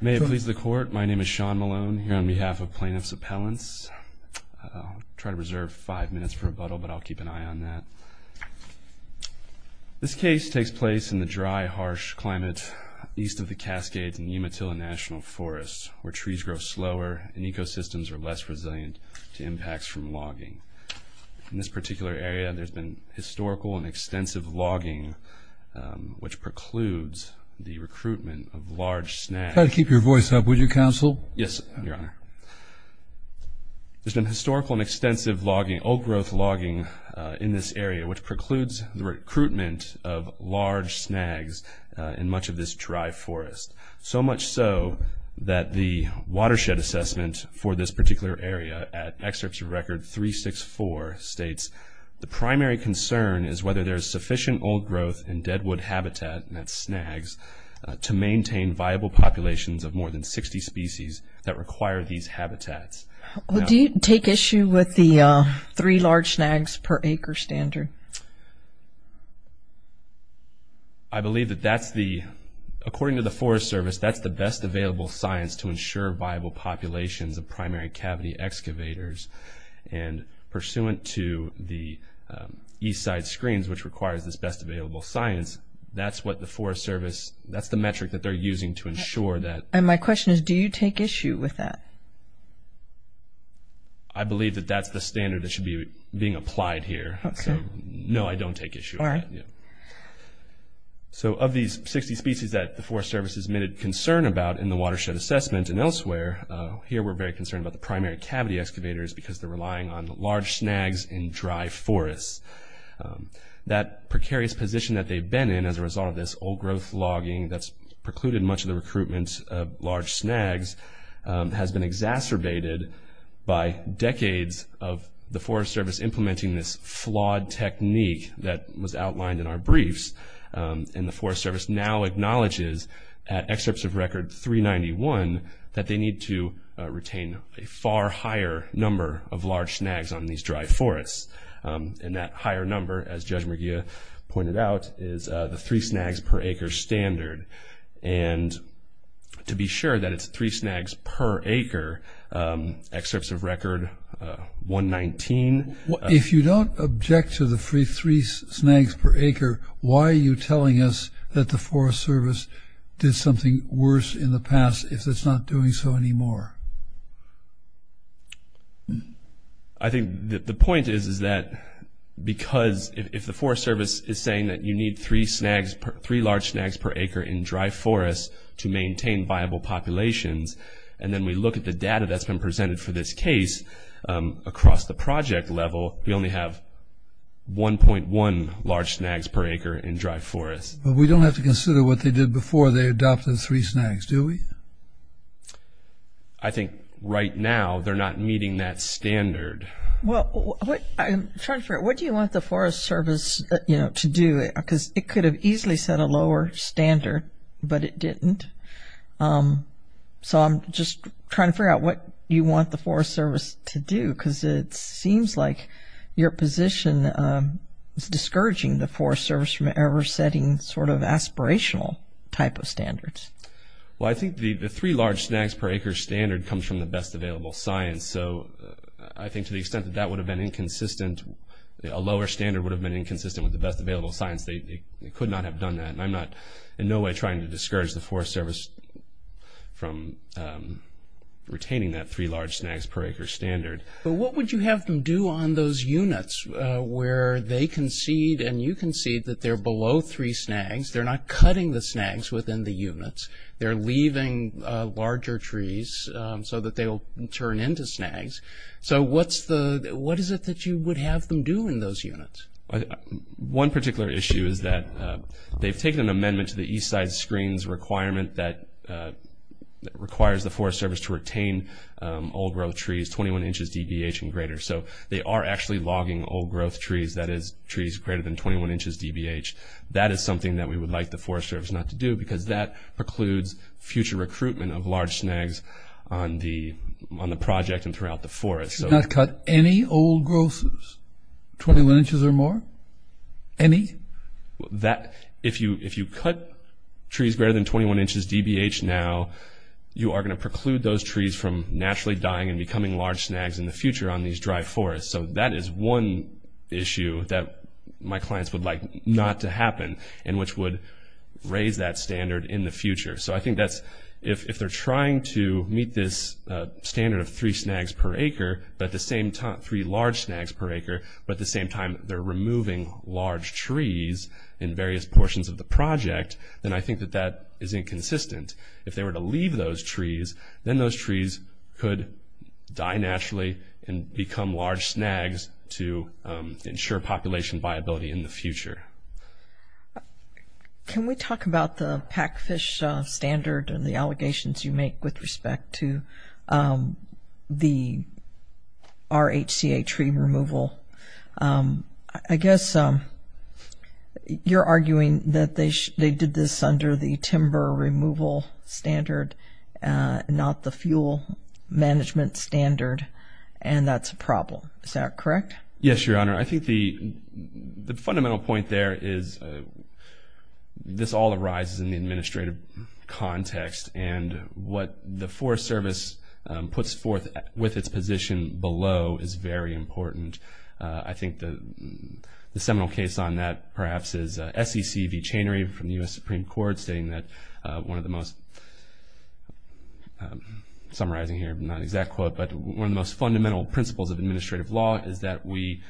May it please the Court, my name is Sean Malone, here on behalf of Plaintiffs' Appellants. I'll try to reserve five minutes for rebuttal, but I'll keep an eye on that. This case takes place in the dry, harsh climate east of the Cascades in Yematilla National Forest, where trees grow slower and ecosystems are less resilient to impacts from logging. In this particular area, there's been historical and extensive logging, which precludes the recruitment of large snags. Try to keep your voice up, would you, Counsel? Yes, Your Honor. There's been historical and extensive logging, old-growth logging, in this area, which precludes the recruitment of large snags in much of this dry forest, so much so that the watershed assessment for this particular area at Excerpts of Record 364 states, the primary concern is whether there's sufficient old-growth and deadwood habitat, and that's snags, to maintain viable populations of more than 60 species that require these habitats. Do you take issue with the three large snags per acre standard? I believe that that's the, according to the Forest Service, that's the best available science to ensure viable populations of primary cavity excavators, and pursuant to the east side screens, which requires this best available science, that's what the Forest Service, that's the metric that they're using to ensure that. And my question is, do you take issue with that? I believe that that's the standard that should be being applied here. Okay. So, no, I don't take issue with that. All right. So, of these 60 species that the Forest Service has made a concern about in the watershed assessment and elsewhere, here we're very concerned about the primary cavity excavators because they're relying on large snags in dry forests. That precarious position that they've been in as a result of this old-growth logging that's precluded much of the recruitment of large snags has been exacerbated by decades of the Forest Service implementing this flawed technique that was outlined in our briefs, and the Forest Service now acknowledges, at excerpts of record 391, that they need to retain a far higher number of large snags on these dry forests. And that higher number, as Judge McGeough pointed out, is the three snags per acre standard. And to be sure that it's three snags per acre, excerpts of record 119. If you don't object to the three snags per acre, why are you telling us that the Forest Service did something worse in the past if it's not doing so anymore? I think the point is that because if the Forest Service is saying that you need three snags, three large snags per acre in dry forests to maintain viable populations, and then we look at the data that's been presented for this case across the project level, we only have 1.1 large snags per acre in dry forests. But we don't have to consider what they did before they adopted three snags, do we? I think right now they're not meeting that standard. Well, I'm trying to figure out what do you want the Forest Service to do? Because it could have easily set a lower standard, but it didn't. So I'm just trying to figure out what you want the Forest Service to do, because it seems like your position is discouraging the Forest Service from ever setting sort of aspirational type of standards. Well, I think the three large snags per acre standard comes from the best available science. So I think to the extent that that would have been inconsistent, a lower standard would have been inconsistent with the best available science. They could not have done that. And I'm not in no way trying to discourage the Forest Service from retaining that three large snags per acre standard. But what would you have them do on those units where they concede and you concede that they're below three snags, they're not cutting the snags within the units, they're leaving larger trees so that they'll turn into snags. So what is it that you would have them do in those units? One particular issue is that they've taken an amendment to the east side screen's requirement that requires the Forest Service to retain old-growth trees 21 inches DBH and greater. So they are actually logging old-growth trees, that is, trees greater than 21 inches DBH. That is something that we would like the Forest Service not to do, because that precludes future recruitment of large snags on the project and throughout the forest. They should not cut any old-growth trees, 21 inches or more, any? If you cut trees greater than 21 inches DBH now, you are going to preclude those trees from naturally dying and becoming large snags in the future on these dry forests. So that is one issue that my clients would like not to happen and which would raise that standard in the future. So I think that's, if they're trying to meet this standard of three snags per acre, but at the same time, three large snags per acre, but at the same time they're removing large trees in various portions of the project, then I think that that is inconsistent. If they were to leave those trees, then those trees could die naturally and become large snags to ensure population viability in the future. Can we talk about the pack fish standard and the allegations you make with respect to the RHCA tree removal? I guess you're arguing that they did this under the timber removal standard, not the fuel management standard, and that's a problem. Is that correct? Yes, Your Honor. I think the fundamental point there is this all arises in the administrative context, and what the Forest Service puts forth with its position below is very important. I think the seminal case on that perhaps is SEC v. Chanery from the U.S. Supreme Court, stating that one of the most, summarizing here, not an exact quote, but one of the most fundamental principles of administrative law is that we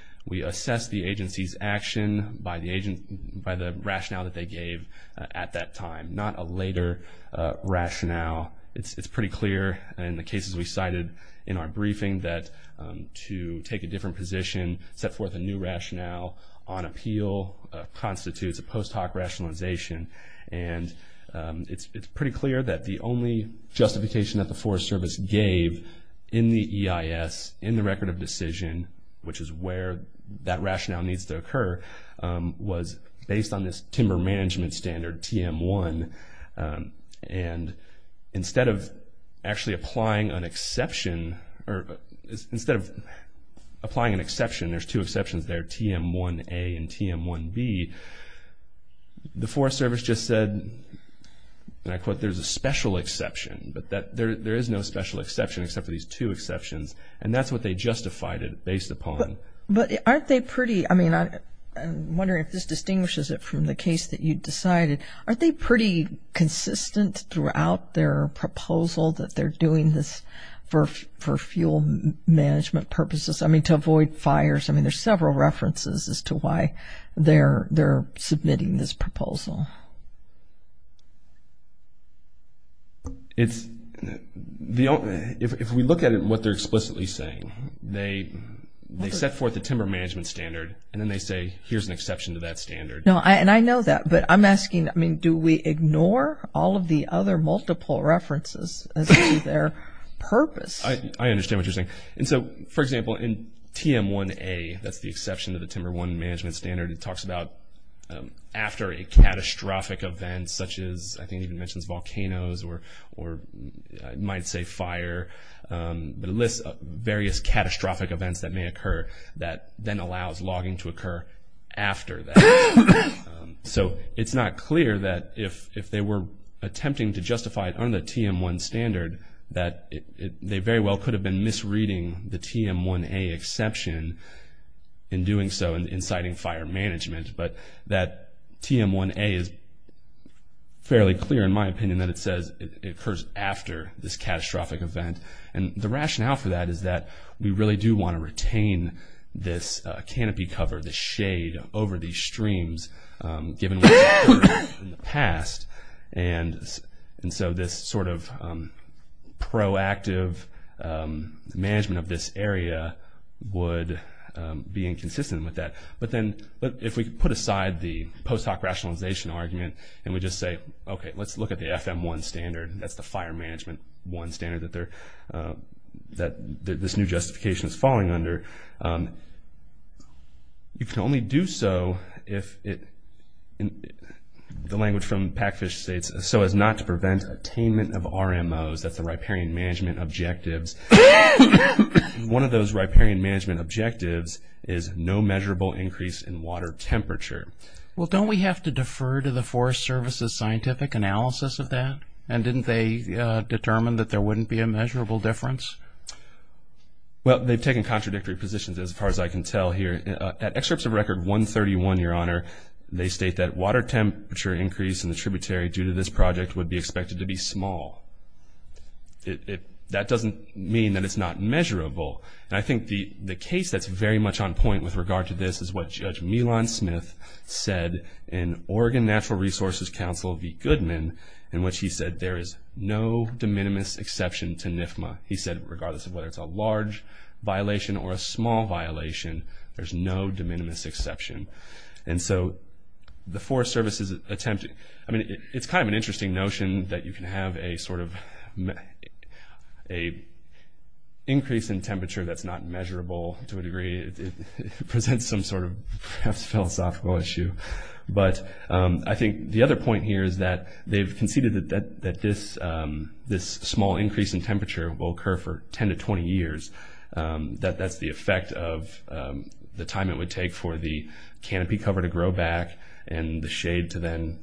assess the agency's action by the rationale that they gave at that time, not a later rationale. It's pretty clear in the cases we cited in our briefing that to take a different position, set forth a new rationale on appeal constitutes a post hoc rationalization, and it's pretty clear that the only justification that the Forest Service gave in the EIS, in the record of decision, which is where that rationale needs to occur, was based on this timber management standard, TM1, and instead of actually applying an exception, or instead of applying an exception, there's two exceptions there, TM1A and TM1B, the Forest Service just said, and I quote, there's a special exception, but there is no special exception except for these two exceptions, and that's what they justified it based upon. But aren't they pretty, I mean, I'm wondering if this distinguishes it from the case that you decided, aren't they pretty consistent throughout their proposal that they're doing this for fuel management purposes, I mean, to avoid fires, I mean, there's several references as to why they're submitting this proposal. It's, if we look at it and what they're explicitly saying, they set forth a timber management standard, and then they say, here's an exception to that standard. No, and I know that, but I'm asking, I mean, do we ignore all of the other multiple references as to their purpose? I understand what you're saying. And so, for example, in TM1A, that's the exception to the Timber 1 Management Standard, it talks about after a catastrophic event such as, I think it even mentions volcanoes or you might say fire, but it lists various catastrophic events that may occur that then allows logging to occur after that. So it's not clear that if they were attempting to justify it under the TM1 standard, that they very well could have been misreading the TM1A exception in doing so and inciting fire management, but that TM1A is fairly clear, in my opinion, that it says it occurs after this catastrophic event. And the rationale for that is that we really do want to retain this canopy cover, the shade over these streams, given what's happened in the past. And so this sort of proactive management of this area would be inconsistent with that. But then if we put aside the post hoc rationalization argument and we just say, okay, let's look at the FM1 standard, that's the fire management 1 standard that this new justification is falling under, you can only do so if it, the language from Packfish states, so as not to prevent attainment of RMOs, that's the Riparian Management Objectives. One of those Riparian Management Objectives is no measurable increase in water temperature. Well, don't we have to defer to the Forest Service's scientific analysis of that? And didn't they determine that there wouldn't be a measurable difference? Well, they've taken contradictory positions as far as I can tell here. At excerpts of Record 131, Your Honor, they state that water temperature increase in the tributary due to this project would be expected to be small. That doesn't mean that it's not measurable. And I think the case that's very much on point with regard to this is what Judge Milan Smith said in Oregon Natural Resources Council v. Goodman, in which he said there is no de minimis exception to NFMA. He said regardless of whether it's a large violation or a small violation, there's no de minimis exception. And so the Forest Service's attempt, I mean, it's kind of an interesting notion that you can have a sort of, a increase in temperature that's not measurable to a degree presents some sort of perhaps philosophical issue. But I think the other point here is that they've conceded that this small increase in temperature will occur for 10 to 20 years, that that's the effect of the time it would take for the canopy cover to grow back and the shade to then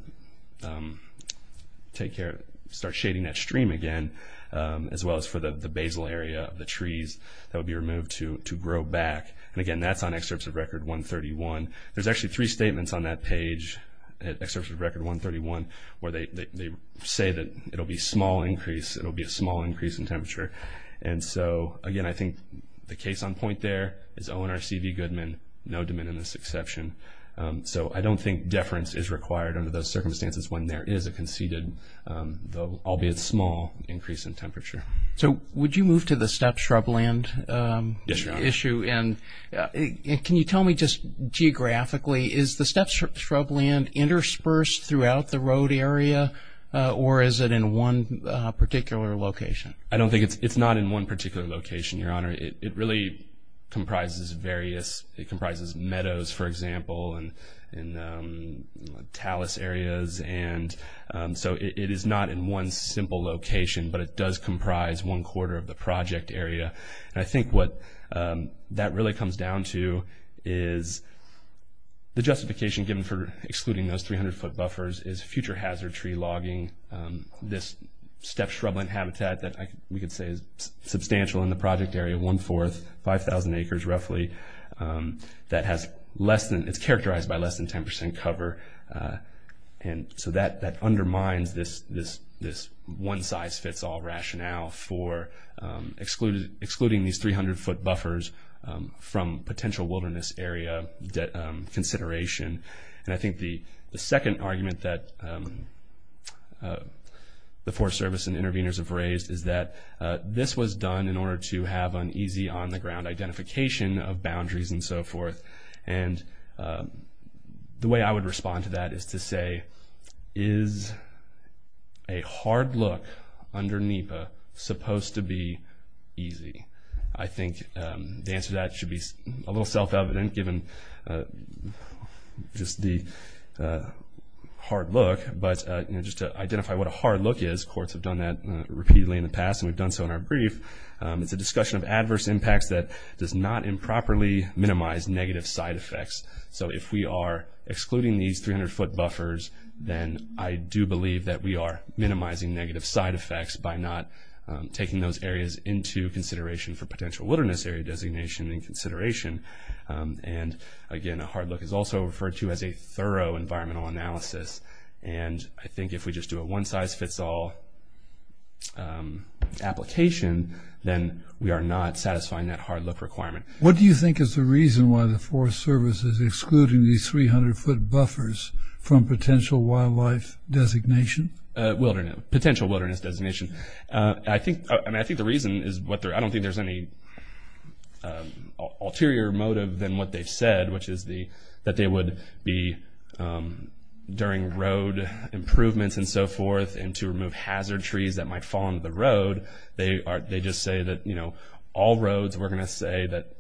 take care of, start shading that stream again, as well as for the basal area of the trees that would be removed to grow back. And, again, that's on excerpts of Record 131. There's actually three statements on that page, excerpts of Record 131, where they say that it'll be a small increase in temperature. And so, again, I think the case on point there is O&R C.V. Goodman, no de minimis exception. So I don't think deference is required under those circumstances when there is a conceded, albeit small, increase in temperature. So would you move to the steppe shrubland issue? Yes, Your Honor. And can you tell me just geographically, is the steppe shrubland interspersed throughout the road area or is it in one particular location? I don't think it's not in one particular location, Your Honor. It really comprises various, it comprises meadows, for example, and talus areas. And so it is not in one simple location, but it does comprise one quarter of the project area. And I think what that really comes down to is the justification given for excluding those 300-foot buffers is future hazard tree logging. This steppe shrubland habitat that we could say is substantial in the project area, one-fourth, 5,000 acres roughly, that has less than, it's characterized by less than 10% cover. And so that undermines this one-size-fits-all rationale for excluding these 300-foot buffers from potential wilderness area consideration. And I think the second argument that the Forest Service and interveners have raised is that this was done in order to have an easy on-the-ground identification of boundaries and so forth. And the way I would respond to that is to say, is a hard look under NEPA supposed to be easy? I think the answer to that should be a little self-evident given just the hard look. But just to identify what a hard look is, courts have done that repeatedly in the past, and we've done so in our brief. It's a discussion of adverse impacts that does not improperly minimize negative side effects. So if we are excluding these 300-foot buffers, then I do believe that we are minimizing negative side effects by not taking those areas into consideration for potential wilderness area designation and consideration. And, again, a hard look is also referred to as a thorough environmental analysis. And I think if we just do a one-size-fits-all application, then we are not satisfying that hard look requirement. What do you think is the reason why the Forest Service is excluding these 300-foot buffers from potential wildlife designation? Potential wilderness designation. I think the reason is I don't think there's any ulterior motive than what they've said, which is that they would be during road improvements and so forth and to remove hazard trees that might fall into the road. They just say that all roads, we're going to say that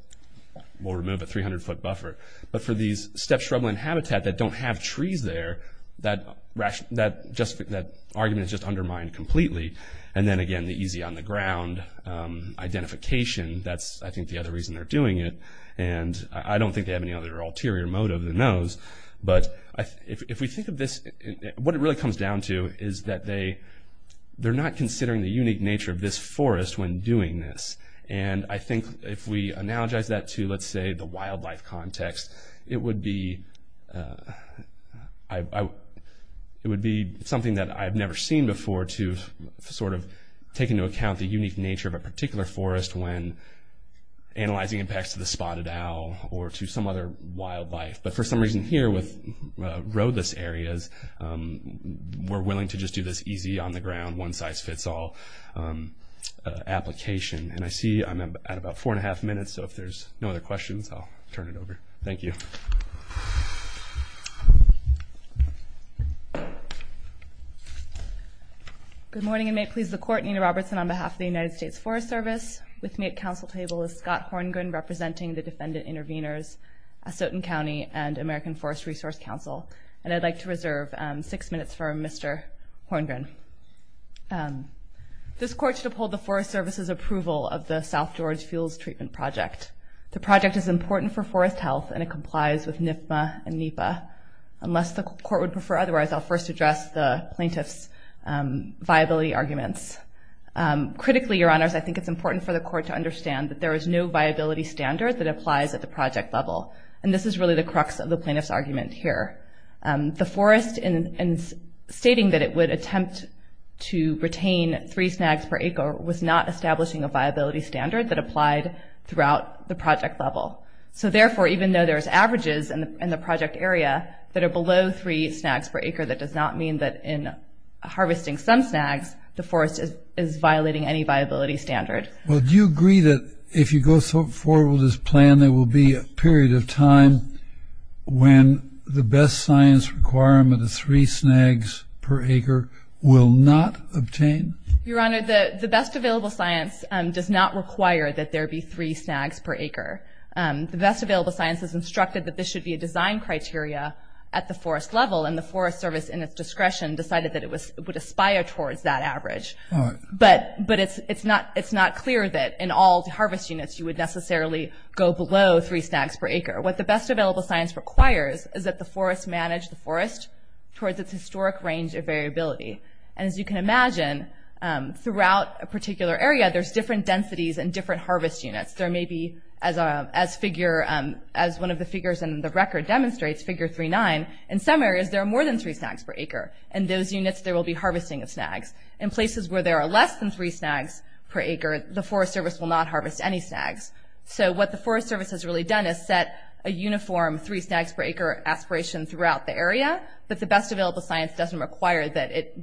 we'll remove a 300-foot buffer. But for these step shrubland habitat that don't have trees there, that argument is just undermined completely. And then, again, the easy on-the-ground identification, that's, I think, the other reason they're doing it. And I don't think they have any other ulterior motive than those. But if we think of this, what it really comes down to is that they're not considering the unique nature of this forest when doing this. And I think if we analogize that to, let's say, the wildlife context, it would be something that I've never seen before to sort of take into account the unique nature of a particular forest when analyzing impacts to the spotted owl or to some other wildlife. But for some reason here with roadless areas, we're willing to just do this easy on-the-ground, one-size-fits-all application. And I see I'm at about four and a half minutes. So if there's no other questions, I'll turn it over. Thank you. Good morning, and may it please the Court. Nina Robertson on behalf of the United States Forest Service. With me at council table is Scott Horngren, representing the Defendant Intervenors, Asotin County, and American Forest Resource Council. And I'd like to reserve six minutes for Mr. Horngren. This Court should uphold the Forest Service's approval of the South George Fields Treatment Project. The project is important for forest health, and it complies with NFMA and NEPA. Unless the Court would prefer otherwise, I'll first address the plaintiff's viability arguments. Critically, Your Honors, I think it's important for the Court to understand that there is no viability standard that applies at the project level. And this is really the crux of the plaintiff's argument here. The forest, in stating that it would attempt to retain three snags per acre, was not establishing a viability standard that applied throughout the project level. So therefore, even though there's averages in the project area that are below three snags per acre, that does not mean that in harvesting some snags, the forest is violating any viability standard. Well, do you agree that if you go forward with this plan, there will be a period of time when the best science requirement of three snags per acre will not obtain? Your Honor, the best available science does not require that there be three snags per acre. The best available science has instructed that this should be a design criteria at the forest level, and the Forest Service, in its discretion, decided that it would aspire towards that average. All right. But it's not clear that in all the harvest units you would necessarily go below three snags per acre. What the best available science requires is that the forest manage the forest towards its historic range of variability. And as you can imagine, throughout a particular area, there's different densities and different harvest units. There may be, as one of the figures in the record demonstrates, Figure 3-9, in some areas there are more than three snags per acre. In those units, there will be harvesting of snags. In places where there are less than three snags per acre, the Forest Service will not harvest any snags. So what the Forest Service has really done is set a uniform three snags per acre aspiration throughout the area, but the best available science doesn't require that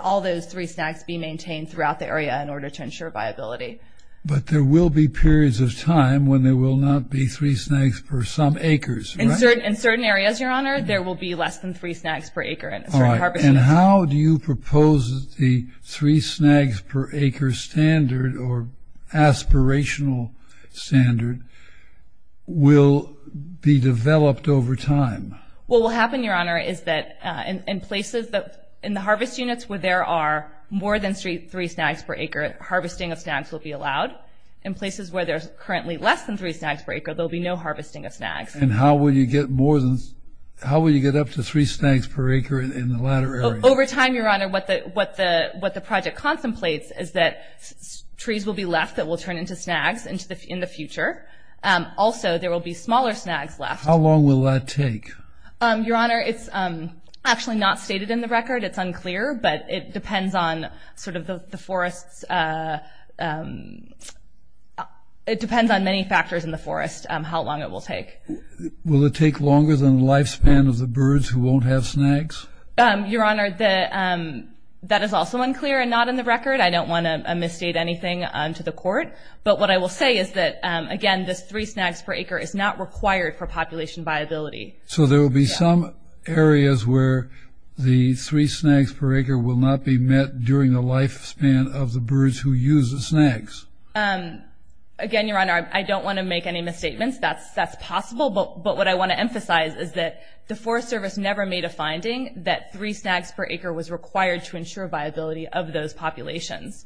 all those three snags be maintained throughout the area in order to ensure viability. But there will be periods of time when there will not be three snags per some acres, right? In certain areas, Your Honor, there will be less than three snags per acre in certain harvest units. And how do you propose the three snags per acre standard or aspirational standard will be developed over time? Well, what will happen, Your Honor, is that in the harvest units where there are more than three snags per acre, harvesting of snags will be allowed. In places where there's currently less than three snags per acre, there will be no harvesting of snags. And how will you get up to three snags per acre in the latter area? Over time, Your Honor, what the project contemplates is that trees will be left that will turn into snags in the future. Also, there will be smaller snags left. How long will that take? Your Honor, it's actually not stated in the record. It's unclear, but it depends on sort of the forests. It depends on many factors in the forest how long it will take. Will it take longer than the lifespan of the birds who won't have snags? Your Honor, that is also unclear and not in the record. I don't want to misstate anything to the Court. But what I will say is that, again, this three snags per acre is not required for population viability. So there will be some areas where the three snags per acre will not be met during the lifespan of the birds who use the snags? Again, Your Honor, I don't want to make any misstatements. That's possible. But what I want to emphasize is that the Forest Service never made a finding that three snags per acre was required to ensure viability of those populations.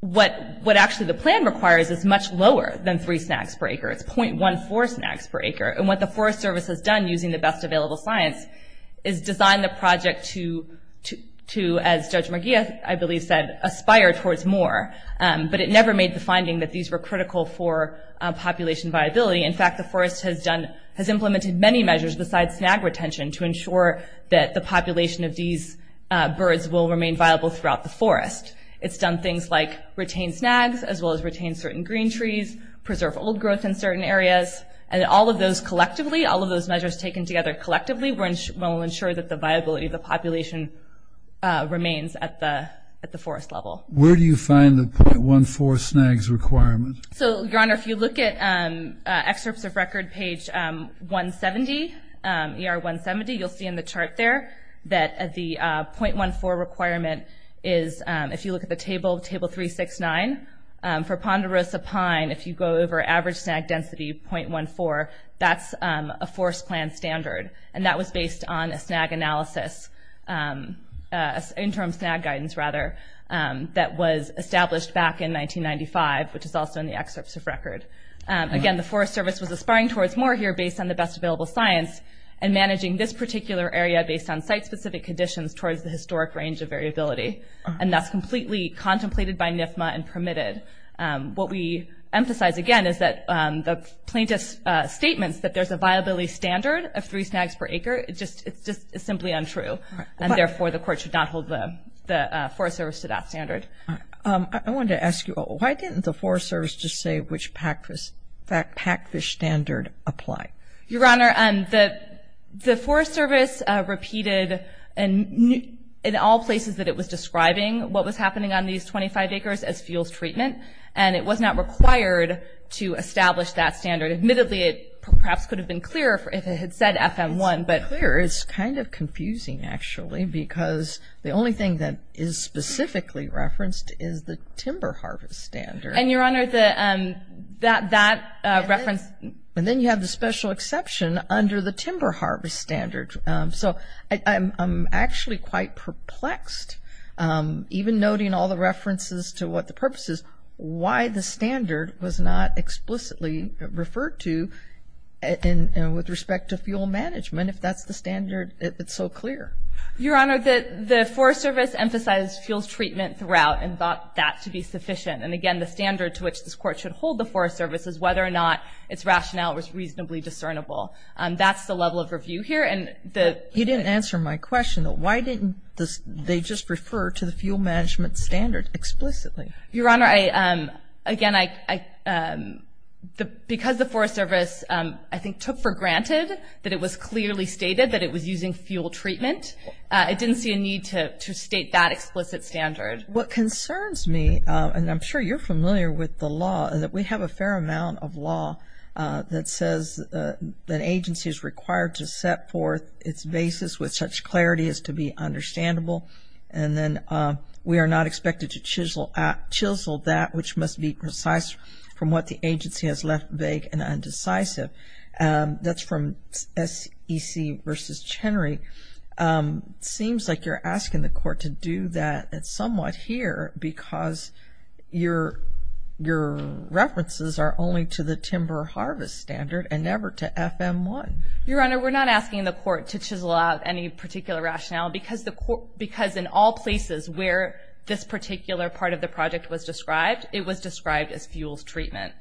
What actually the plan requires is much lower than three snags per acre. It's .14 snags per acre. And what the Forest Service has done using the best available science is design the project to, as Judge McGee, I believe, said, aspire towards more. But it never made the finding that these were critical for population viability. In fact, the Forest has implemented many measures besides snag retention to ensure that the population of these birds will remain viable throughout the forest. It's done things like retain snags as well as retain certain green trees, preserve old growth in certain areas. And all of those collectively, all of those measures taken together collectively will ensure that the viability of the population remains at the forest level. Where do you find the .14 snags requirement? So, Your Honor, if you look at excerpts of record page 170, ER 170, you'll see in the chart there that the .14 requirement is, if you look at the table, table 369. For Ponderosa Pine, if you go over average snag density, .14, that's a forest plan standard. And that was based on a snag analysis, interim snag guidance, rather, that was established back in 1995, which is also in the excerpts of record. Again, the Forest Service was aspiring towards more here based on the best available science and managing this particular area based on site-specific conditions towards the historic range of variability. And that's completely contemplated by NIFMA and permitted. What we emphasize, again, is that the plaintiff's statements that there's a viability standard of three snags per acre, it's just simply untrue. And therefore, the court should not hold the Forest Service to that standard. I wanted to ask you, why didn't the Forest Service just say which PACFIS standard applied? Your Honor, the Forest Service repeated in all places that it was describing what was happening on these 25 acres as fuels treatment, and it was not required to establish that standard. Admittedly, it perhaps could have been clearer if it had said FM1. It's clear. It's kind of confusing, actually, because the only thing that is specifically referenced is the timber harvest standard. And, Your Honor, that reference... And then you have the special exception under the timber harvest standard. So I'm actually quite perplexed, even noting all the references to what the purpose is, why the standard was not explicitly referred to with respect to fuel management if that's the standard, if it's so clear. Your Honor, the Forest Service emphasized fuels treatment throughout and thought that to be sufficient. And, again, the standard to which this Court should hold the Forest Service is whether or not its rationale was reasonably discernible. That's the level of review here. You didn't answer my question, though. Why didn't they just refer to the fuel management standard explicitly? Your Honor, again, because the Forest Service, I think, took for granted that it was clearly stated that it was using fuel treatment, it didn't see a need to state that explicit standard. What concerns me, and I'm sure you're familiar with the law, that we have a fair amount of law that says that an agency is required to set forth its basis with such clarity as to be understandable. And then we are not expected to chisel that which must be precise from what the agency has left vague and undecisive. That's from SEC v. Chenery. It seems like you're asking the Court to do that somewhat here because your references are only to the timber harvest standard and never to FM-1. Your Honor, we're not asking the Court to chisel out any particular rationale because in all places where this particular part of the project was described, it was described as fuels treatment.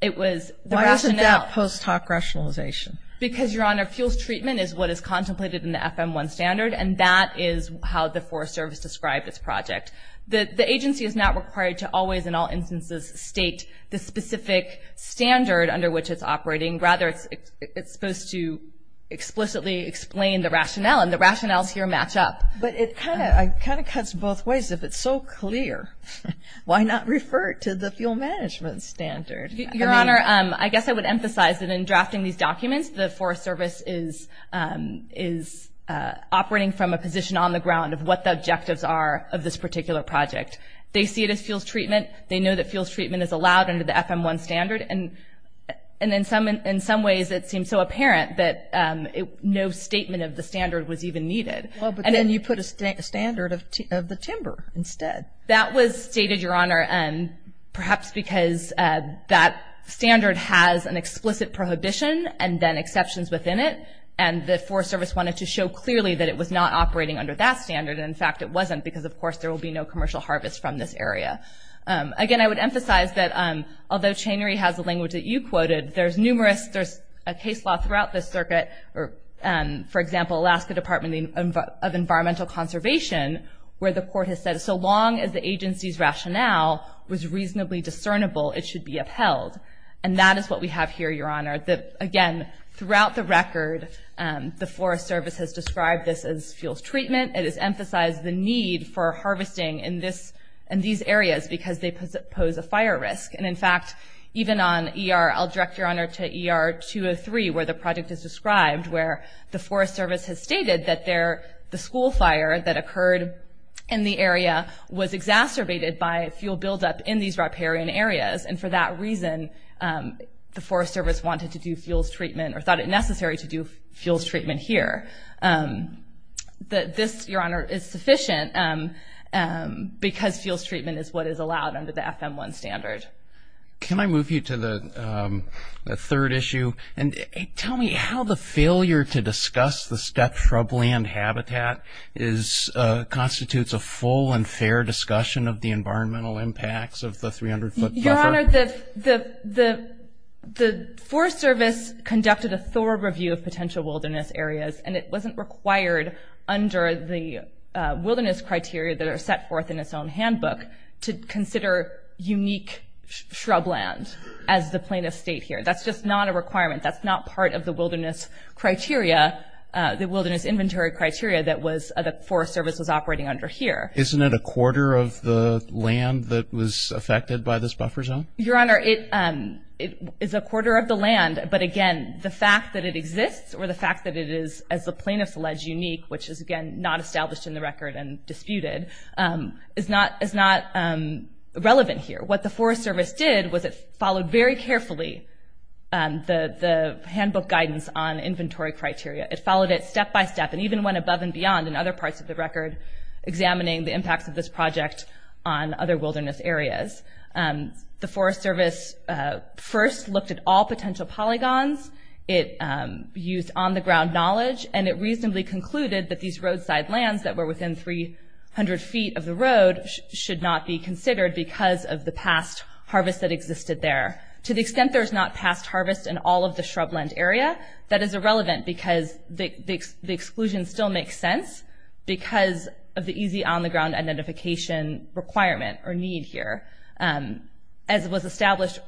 It was the rationale. Why isn't that post hoc rationalization? Because, Your Honor, fuels treatment is what is contemplated in the FM-1 standard, and that is how the Forest Service described its project. The agency is not required to always in all instances state the specific standard under which it's operating. Rather, it's supposed to explicitly explain the rationale, and the rationales here match up. But it kind of cuts both ways. If it's so clear, why not refer it to the fuel management standard? Your Honor, I guess I would emphasize that in drafting these documents, the Forest Service is operating from a position on the ground of what the objectives are of this particular project. They see it as fuels treatment. They know that fuels treatment is allowed under the FM-1 standard, and in some ways it seems so apparent that no statement of the standard was even needed. Well, but then you put a standard of the timber instead. That was stated, Your Honor, perhaps because that standard has an explicit prohibition and then exceptions within it, and the Forest Service wanted to show clearly that it was not operating under that standard. In fact, it wasn't because, of course, there will be no commercial harvest from this area. Again, I would emphasize that although chainery has the language that you quoted, there's numerous, there's a case law throughout this circuit, for example, Alaska Department of Environmental Conservation, where the court has said so long as the agency's rationale was reasonably discernible, it should be upheld, and that is what we have here, Your Honor. Again, throughout the record, the Forest Service has described this as fuels treatment. It has emphasized the need for harvesting in these areas because they pose a fire risk, and in fact, even on ER, I'll direct, Your Honor, to ER 203, where the project is described, where the Forest Service has stated that the school fire that occurred in the area was exacerbated by fuel buildup in these riparian areas, and for that reason the Forest Service wanted to do fuels treatment or thought it necessary to do fuels treatment here. This, Your Honor, is sufficient because fuels treatment is what is allowed under the FM1 standard. Can I move you to the third issue? Tell me how the failure to discuss the stepped shrubland habitat constitutes a full and fair discussion of the environmental impacts of the 300-foot buffer. Your Honor, the Forest Service conducted a thorough review of potential wilderness areas, and it wasn't required under the wilderness criteria that are set forth in its own handbook to consider unique shrubland as the plaintiff's state here. That's just not a requirement. That's not part of the wilderness criteria, the wilderness inventory criteria, that the Forest Service was operating under here. Isn't it a quarter of the land that was affected by this buffer zone? Your Honor, it is a quarter of the land, but again, the fact that it exists or the fact that it is, as the plaintiff's alleged, unique, which is, again, not established in the record and disputed, is not relevant here. What the Forest Service did was it followed very carefully the handbook guidance on inventory criteria. It followed it step by step and even went above and beyond in other parts of the record examining the impacts of this project on other wilderness areas. The Forest Service first looked at all potential polygons. It used on-the-ground knowledge, and it reasonably concluded that these roadside lands that were within 300 feet of the road should not be considered because of the past harvest that existed there. To the extent there's not past harvest in all of the shrubland area, that is irrelevant because the exclusion still makes sense because of the easy on-the-ground identification requirement or need here. As was established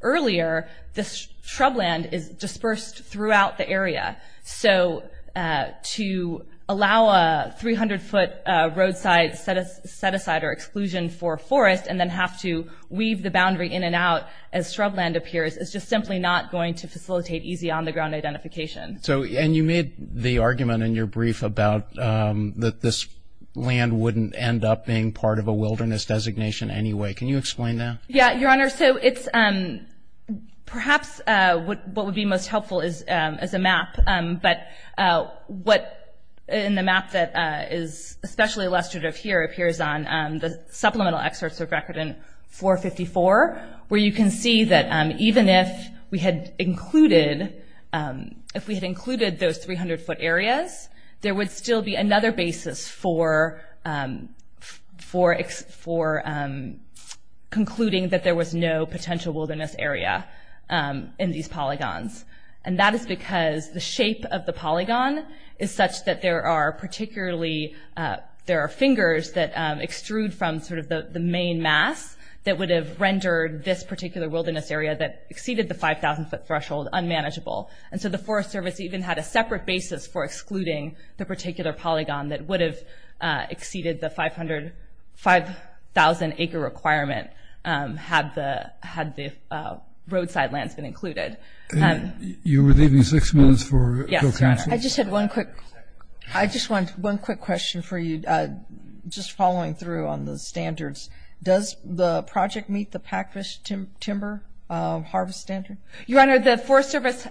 earlier, this shrubland is dispersed throughout the area, so to allow a 300-foot roadside set-aside or exclusion for a forest and then have to weave the boundary in and out as shrubland appears is just simply not going to facilitate easy on-the-ground identification. And you made the argument in your brief about that this land wouldn't end up being part of a wilderness designation anyway. Can you explain that? Yeah, Your Honor, so it's perhaps what would be most helpful is a map, but what in the map that is especially illustrative here appears on the supplemental excerpts of record in 454, where you can see that even if we had included those 300-foot areas, there would still be another basis for concluding that there was no potential wilderness area in these polygons. And that is because the shape of the polygon is such that there are particularly, there are fingers that extrude from sort of the main mass that would have rendered this particular wilderness area that exceeded the 5,000-foot threshold unmanageable. And so the Forest Service even had a separate basis for excluding the particular polygon that would have exceeded the 5,000-acre requirement had the roadside lands been included. You were leaving six minutes for the council? Yes, Your Honor. I just had one quick, I just wanted one quick question for you, just following through on the standards. Does the project meet the Packfish Timber Harvest Standard? Your Honor, the Forest Service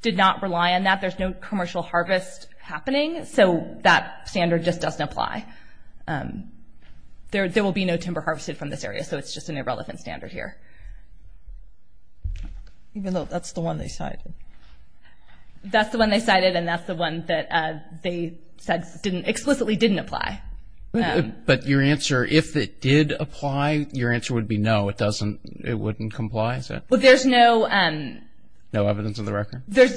did not rely on that. There's no commercial harvest happening, so that standard just doesn't apply. There will be no timber harvested from this area, so it's just an irrelevant standard here. Even though that's the one they cited. That's the one they cited, and that's the one that they said explicitly didn't apply. But your answer, if it did apply, your answer would be no, it wouldn't comply? Well, there's no evidence of the record. There's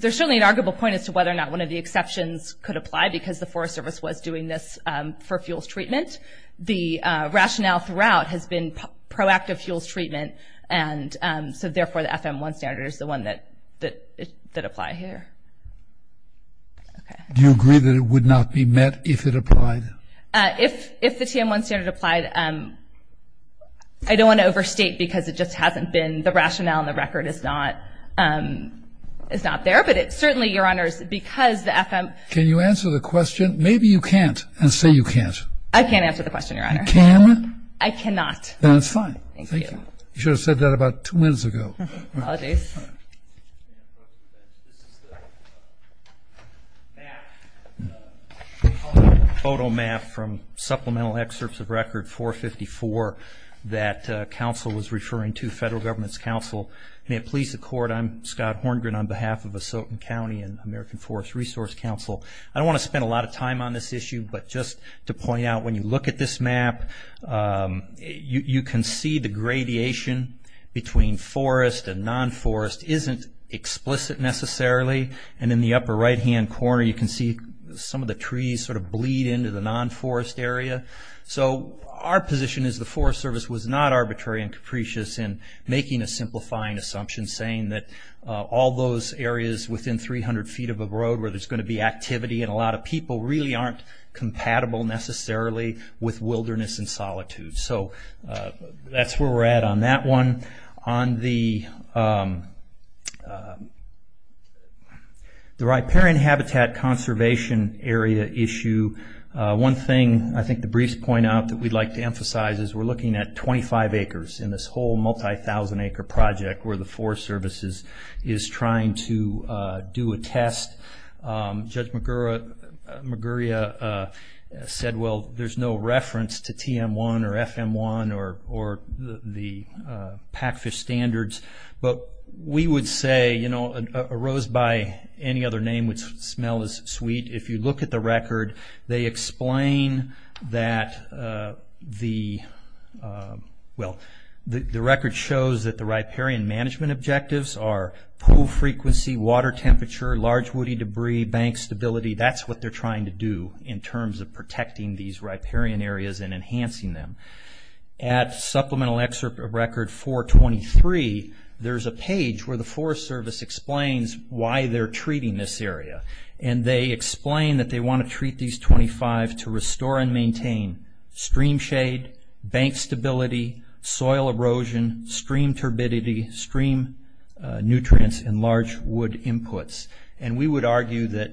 certainly an arguable point as to whether or not one of the exceptions could apply because the Forest Service was doing this for fuels treatment. The rationale throughout has been proactive fuels treatment, and so therefore the FM-1 standard is the one that applied here. Do you agree that it would not be met if it applied? If the TM-1 standard applied, I don't want to overstate because it just hasn't been the rationale and the record is not there. But certainly, Your Honor, because the FM- Can you answer the question? Maybe you can't and say you can't. I can't answer the question, Your Honor. You can? I cannot. Then it's fine. Thank you. You should have said that about two minutes ago. Apologies. This is the map. It's a photo map from supplemental excerpts of record 454 that counsel was referring to, federal government's counsel. May it please the Court, I'm Scott Horngren on behalf of Asotan County and American Forest Resource Council. I don't want to spend a lot of time on this issue, but just to point out when you look at this map, you can see the gradation between forest and non-forest isn't explicit necessarily. And in the upper right-hand corner, you can see some of the trees sort of bleed into the non-forest area. So our position is the Forest Service was not arbitrary and capricious in making a simplifying assumption, saying that all those areas within 300 feet of a road where there's going to be activity and a lot of people really aren't compatible necessarily with wilderness and solitude. So that's where we're at on that one. On the riparian habitat conservation area issue, one thing I think the briefs point out that we'd like to emphasize is we're looking at 25 acres in this whole multi-thousand acre project where the Forest Service is trying to do a test. Judge Maguria said, well, there's no reference to TM1 or FM1 or the pack fish standards, but we would say a rose by any other name would smell as sweet. If you look at the record, they explain that the... Well, the record shows that the riparian management objectives are pool frequency, water temperature, large woody debris, bank stability. That's what they're trying to do in terms of protecting these riparian areas and enhancing them. At Supplemental Excerpt of Record 423, there's a page where the Forest Service explains why they're treating this area. And they explain that they want to treat these 25 to restore and maintain stream shade, bank stability, soil erosion, stream turbidity, stream nutrients, and large wood inputs. And we would argue that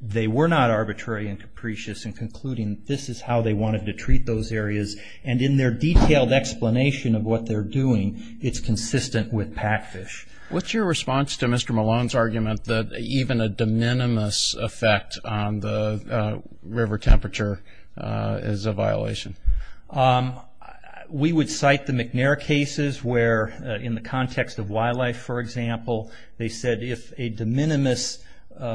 they were not arbitrary and capricious in concluding this is how they wanted to treat those areas. And in their detailed explanation of what they're doing, it's consistent with pack fish. What's your response to Mr. Malone's argument that even a de minimis effect on the river temperature is a violation? We would cite the McNair cases where, in the context of wildlife, for example, they said if a de minimis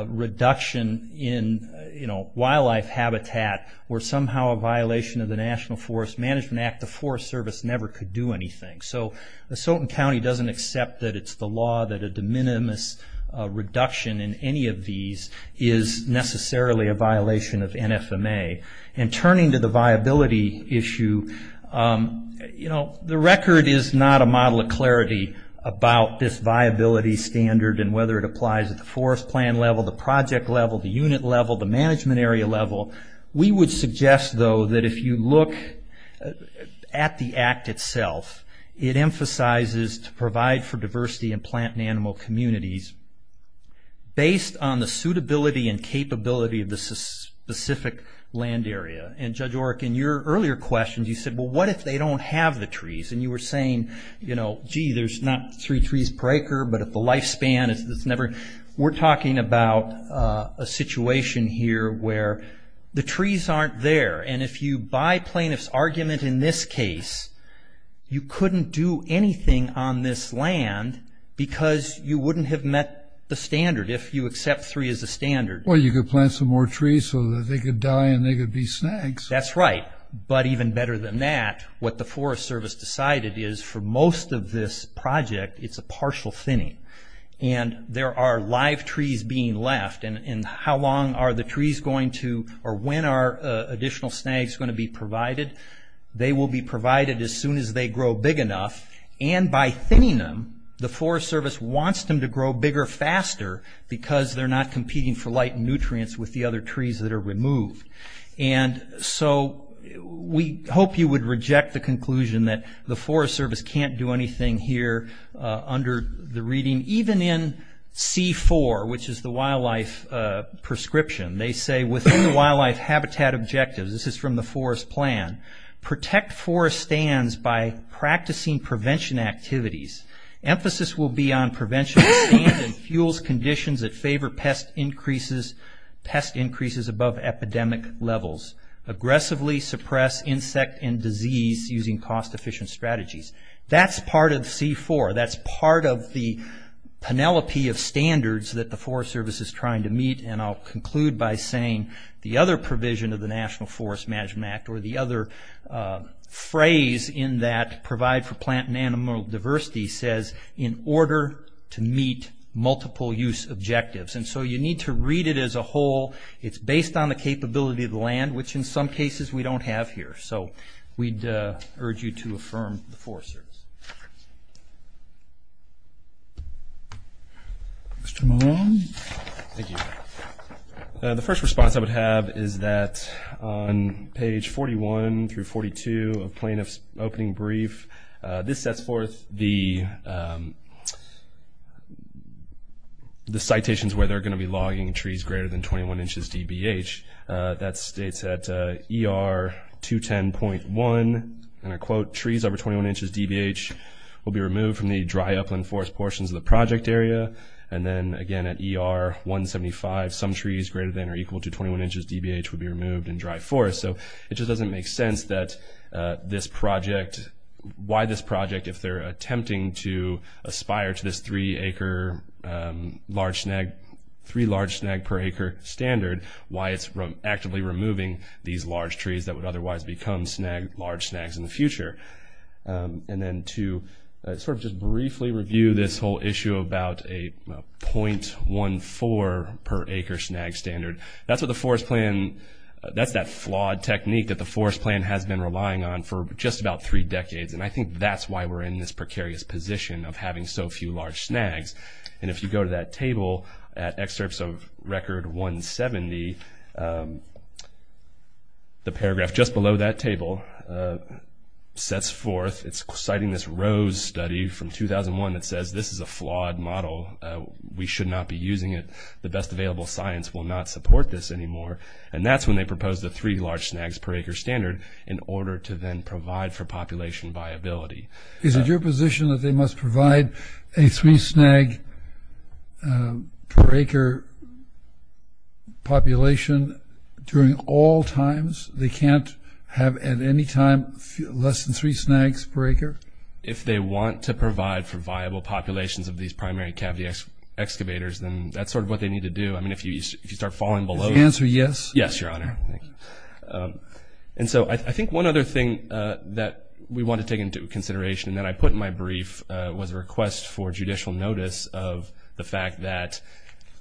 reduction in wildlife habitat were somehow a violation of the National Forest Management Act, the Forest Service never could do anything. So Soton County doesn't accept that it's the law that a de minimis reduction in any of these is necessarily a violation of NFMA. And turning to the viability issue, the record is not a model of clarity about this viability standard and whether it applies at the forest plan level, the project level, the unit level, the management area level. We would suggest, though, that if you look at the Act itself, it emphasizes to provide for diversity in plant and animal communities based on the suitability and capability of the specific land area. And Judge Oreck, in your earlier questions, you said, well, what if they don't have the trees? And you were saying, gee, there's not three trees per acre, but if the lifespan is never... We're talking about a situation here where the trees aren't there. And if you buy plaintiff's argument in this case, you couldn't do anything on this land because you wouldn't have met the standard if you accept three as a standard. Well, you could plant some more trees so that they could die and they could be snags. That's right. But even better than that, what the Forest Service decided is for most of this project, it's a partial thinning. And there are live trees being left. And how long are the trees going to... or when are additional snags going to be provided? They will be provided as soon as they grow big enough. And by thinning them, the Forest Service wants them to grow bigger faster because they're not competing for light and nutrients with the other trees that are removed. And so we hope you would reject the conclusion that the Forest Service can't do anything here under the reading. Even in C4, which is the wildlife prescription, they say within the wildlife habitat objectives, this is from the Forest Plan, protect forest stands by practicing prevention activities. Emphasis will be on prevention of stand and fuels conditions that favor pest increases above epidemic levels. Aggressively suppress insect and disease using cost-efficient strategies. That's part of C4. That's part of the penelope of standards that the Forest Service is trying to meet. And I'll conclude by saying the other provision of the National Forest Management Act or the other phrase in that, provide for plant and animal diversity, says in order to meet multiple use objectives. And so you need to read it as a whole. It's based on the capability of the land, which in some cases we don't have here. So we'd urge you to affirm the Forest Service. Mr. Malone? Thank you. The first response I would have is that on page 41 through 42 of plaintiff's opening brief, this sets forth the citations where they're going to be logging trees greater than 21 inches DBH. That states that ER 210.1, and I quote, trees over 21 inches DBH will be removed from the dry upland forest portions of the project area. And then, again, at ER 175, some trees greater than or equal to 21 inches DBH would be removed in dry forest. So it just doesn't make sense that this project, why this project if they're attempting to aspire to this three acre large snag, three large snag per acre standard, why it's actively removing these large trees that would otherwise become snag, large snags in the future. And then to sort of just briefly review this whole issue about a .14 per acre snag standard, that's what the forest plan, that's that flawed technique that the forest plan has been relying on for just about three decades. And I think that's why we're in this precarious position of having so few large snags. And if you go to that table at excerpts of Record 170, the paragraph just below that table sets forth, it's citing this Rose study from 2001 that says this is a flawed model. We should not be using it. The best available science will not support this anymore. And that's when they propose the three large snags per acre standard in order to then provide for population viability. Is it your position that they must provide a three snag per acre population during all times? They can't have at any time less than three snags per acre? If they want to provide for viable populations of these primary cavity excavators, then that's sort of what they need to do. I mean, if you start falling below that. Is the answer yes? Yes, Your Honor. And so I think one other thing that we want to take into consideration that I put in my brief was a request for judicial notice of the fact that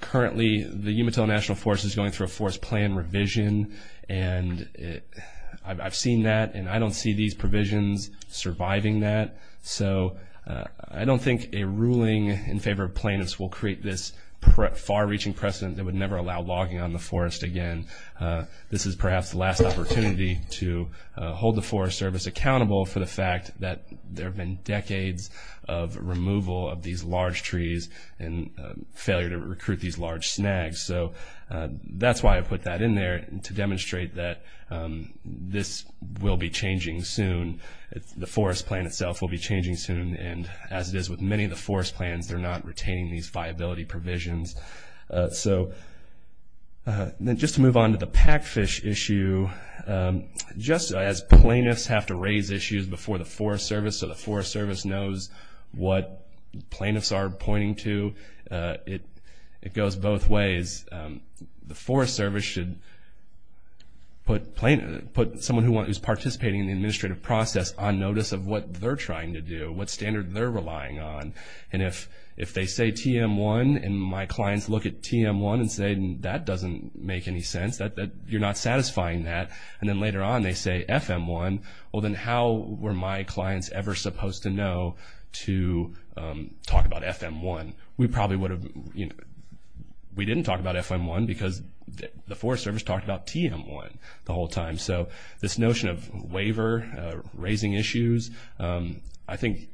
currently the Umatilla National Forest is going through a forest plan revision, and I've seen that, and I don't see these provisions surviving that. So I don't think a ruling in favor of plaintiffs will create this far-reaching precedent that would never allow logging on the forest again. This is perhaps the last opportunity to hold the Forest Service accountable for the fact that there have been decades of removal of these large trees and failure to recruit these large snags. So that's why I put that in there, to demonstrate that this will be changing soon. The forest plan itself will be changing soon, and as it is with many of the forest plans, they're not retaining these viability provisions. So just to move on to the pack fish issue, just as plaintiffs have to raise issues before the Forest Service so the Forest Service knows what plaintiffs are pointing to, it goes both ways. The Forest Service should put someone who's participating in the administrative process on notice of what they're trying to do, what standard they're relying on. And if they say TM1 and my clients look at TM1 and say, that doesn't make any sense, you're not satisfying that, and then later on they say FM1, well then how were my clients ever supposed to know to talk about FM1? We probably would have, we didn't talk about FM1 because the Forest Service talked about TM1 the whole time. So this notion of waiver, raising issues, I think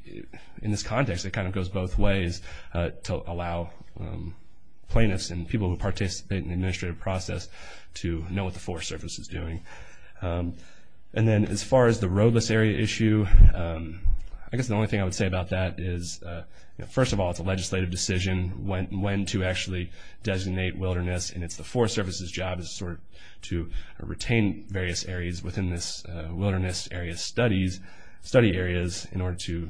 in this context it kind of goes both ways to allow plaintiffs and people who participate in the administrative process to know what the Forest Service is doing. And then as far as the roadless area issue, I guess the only thing I would say about that is, first of all, it's a legislative decision when to actually designate wilderness and it's the Forest Service's job to retain various areas within this wilderness area study areas in order to,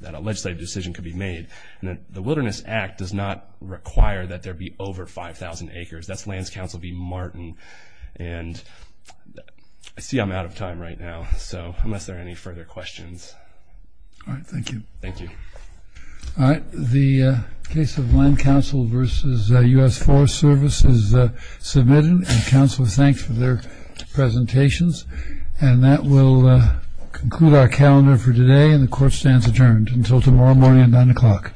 that a legislative decision could be made. And the Wilderness Act does not require that there be over 5,000 acres. That's Lands Council v. Martin. And I see I'm out of time right now, so unless there are any further questions. All right. Thank you. Thank you. All right. The case of Land Council versus U.S. Forest Service is submitted and council thanks for their presentations. And that will conclude our calendar for today and the court stands adjourned until tomorrow morning at 9 o'clock.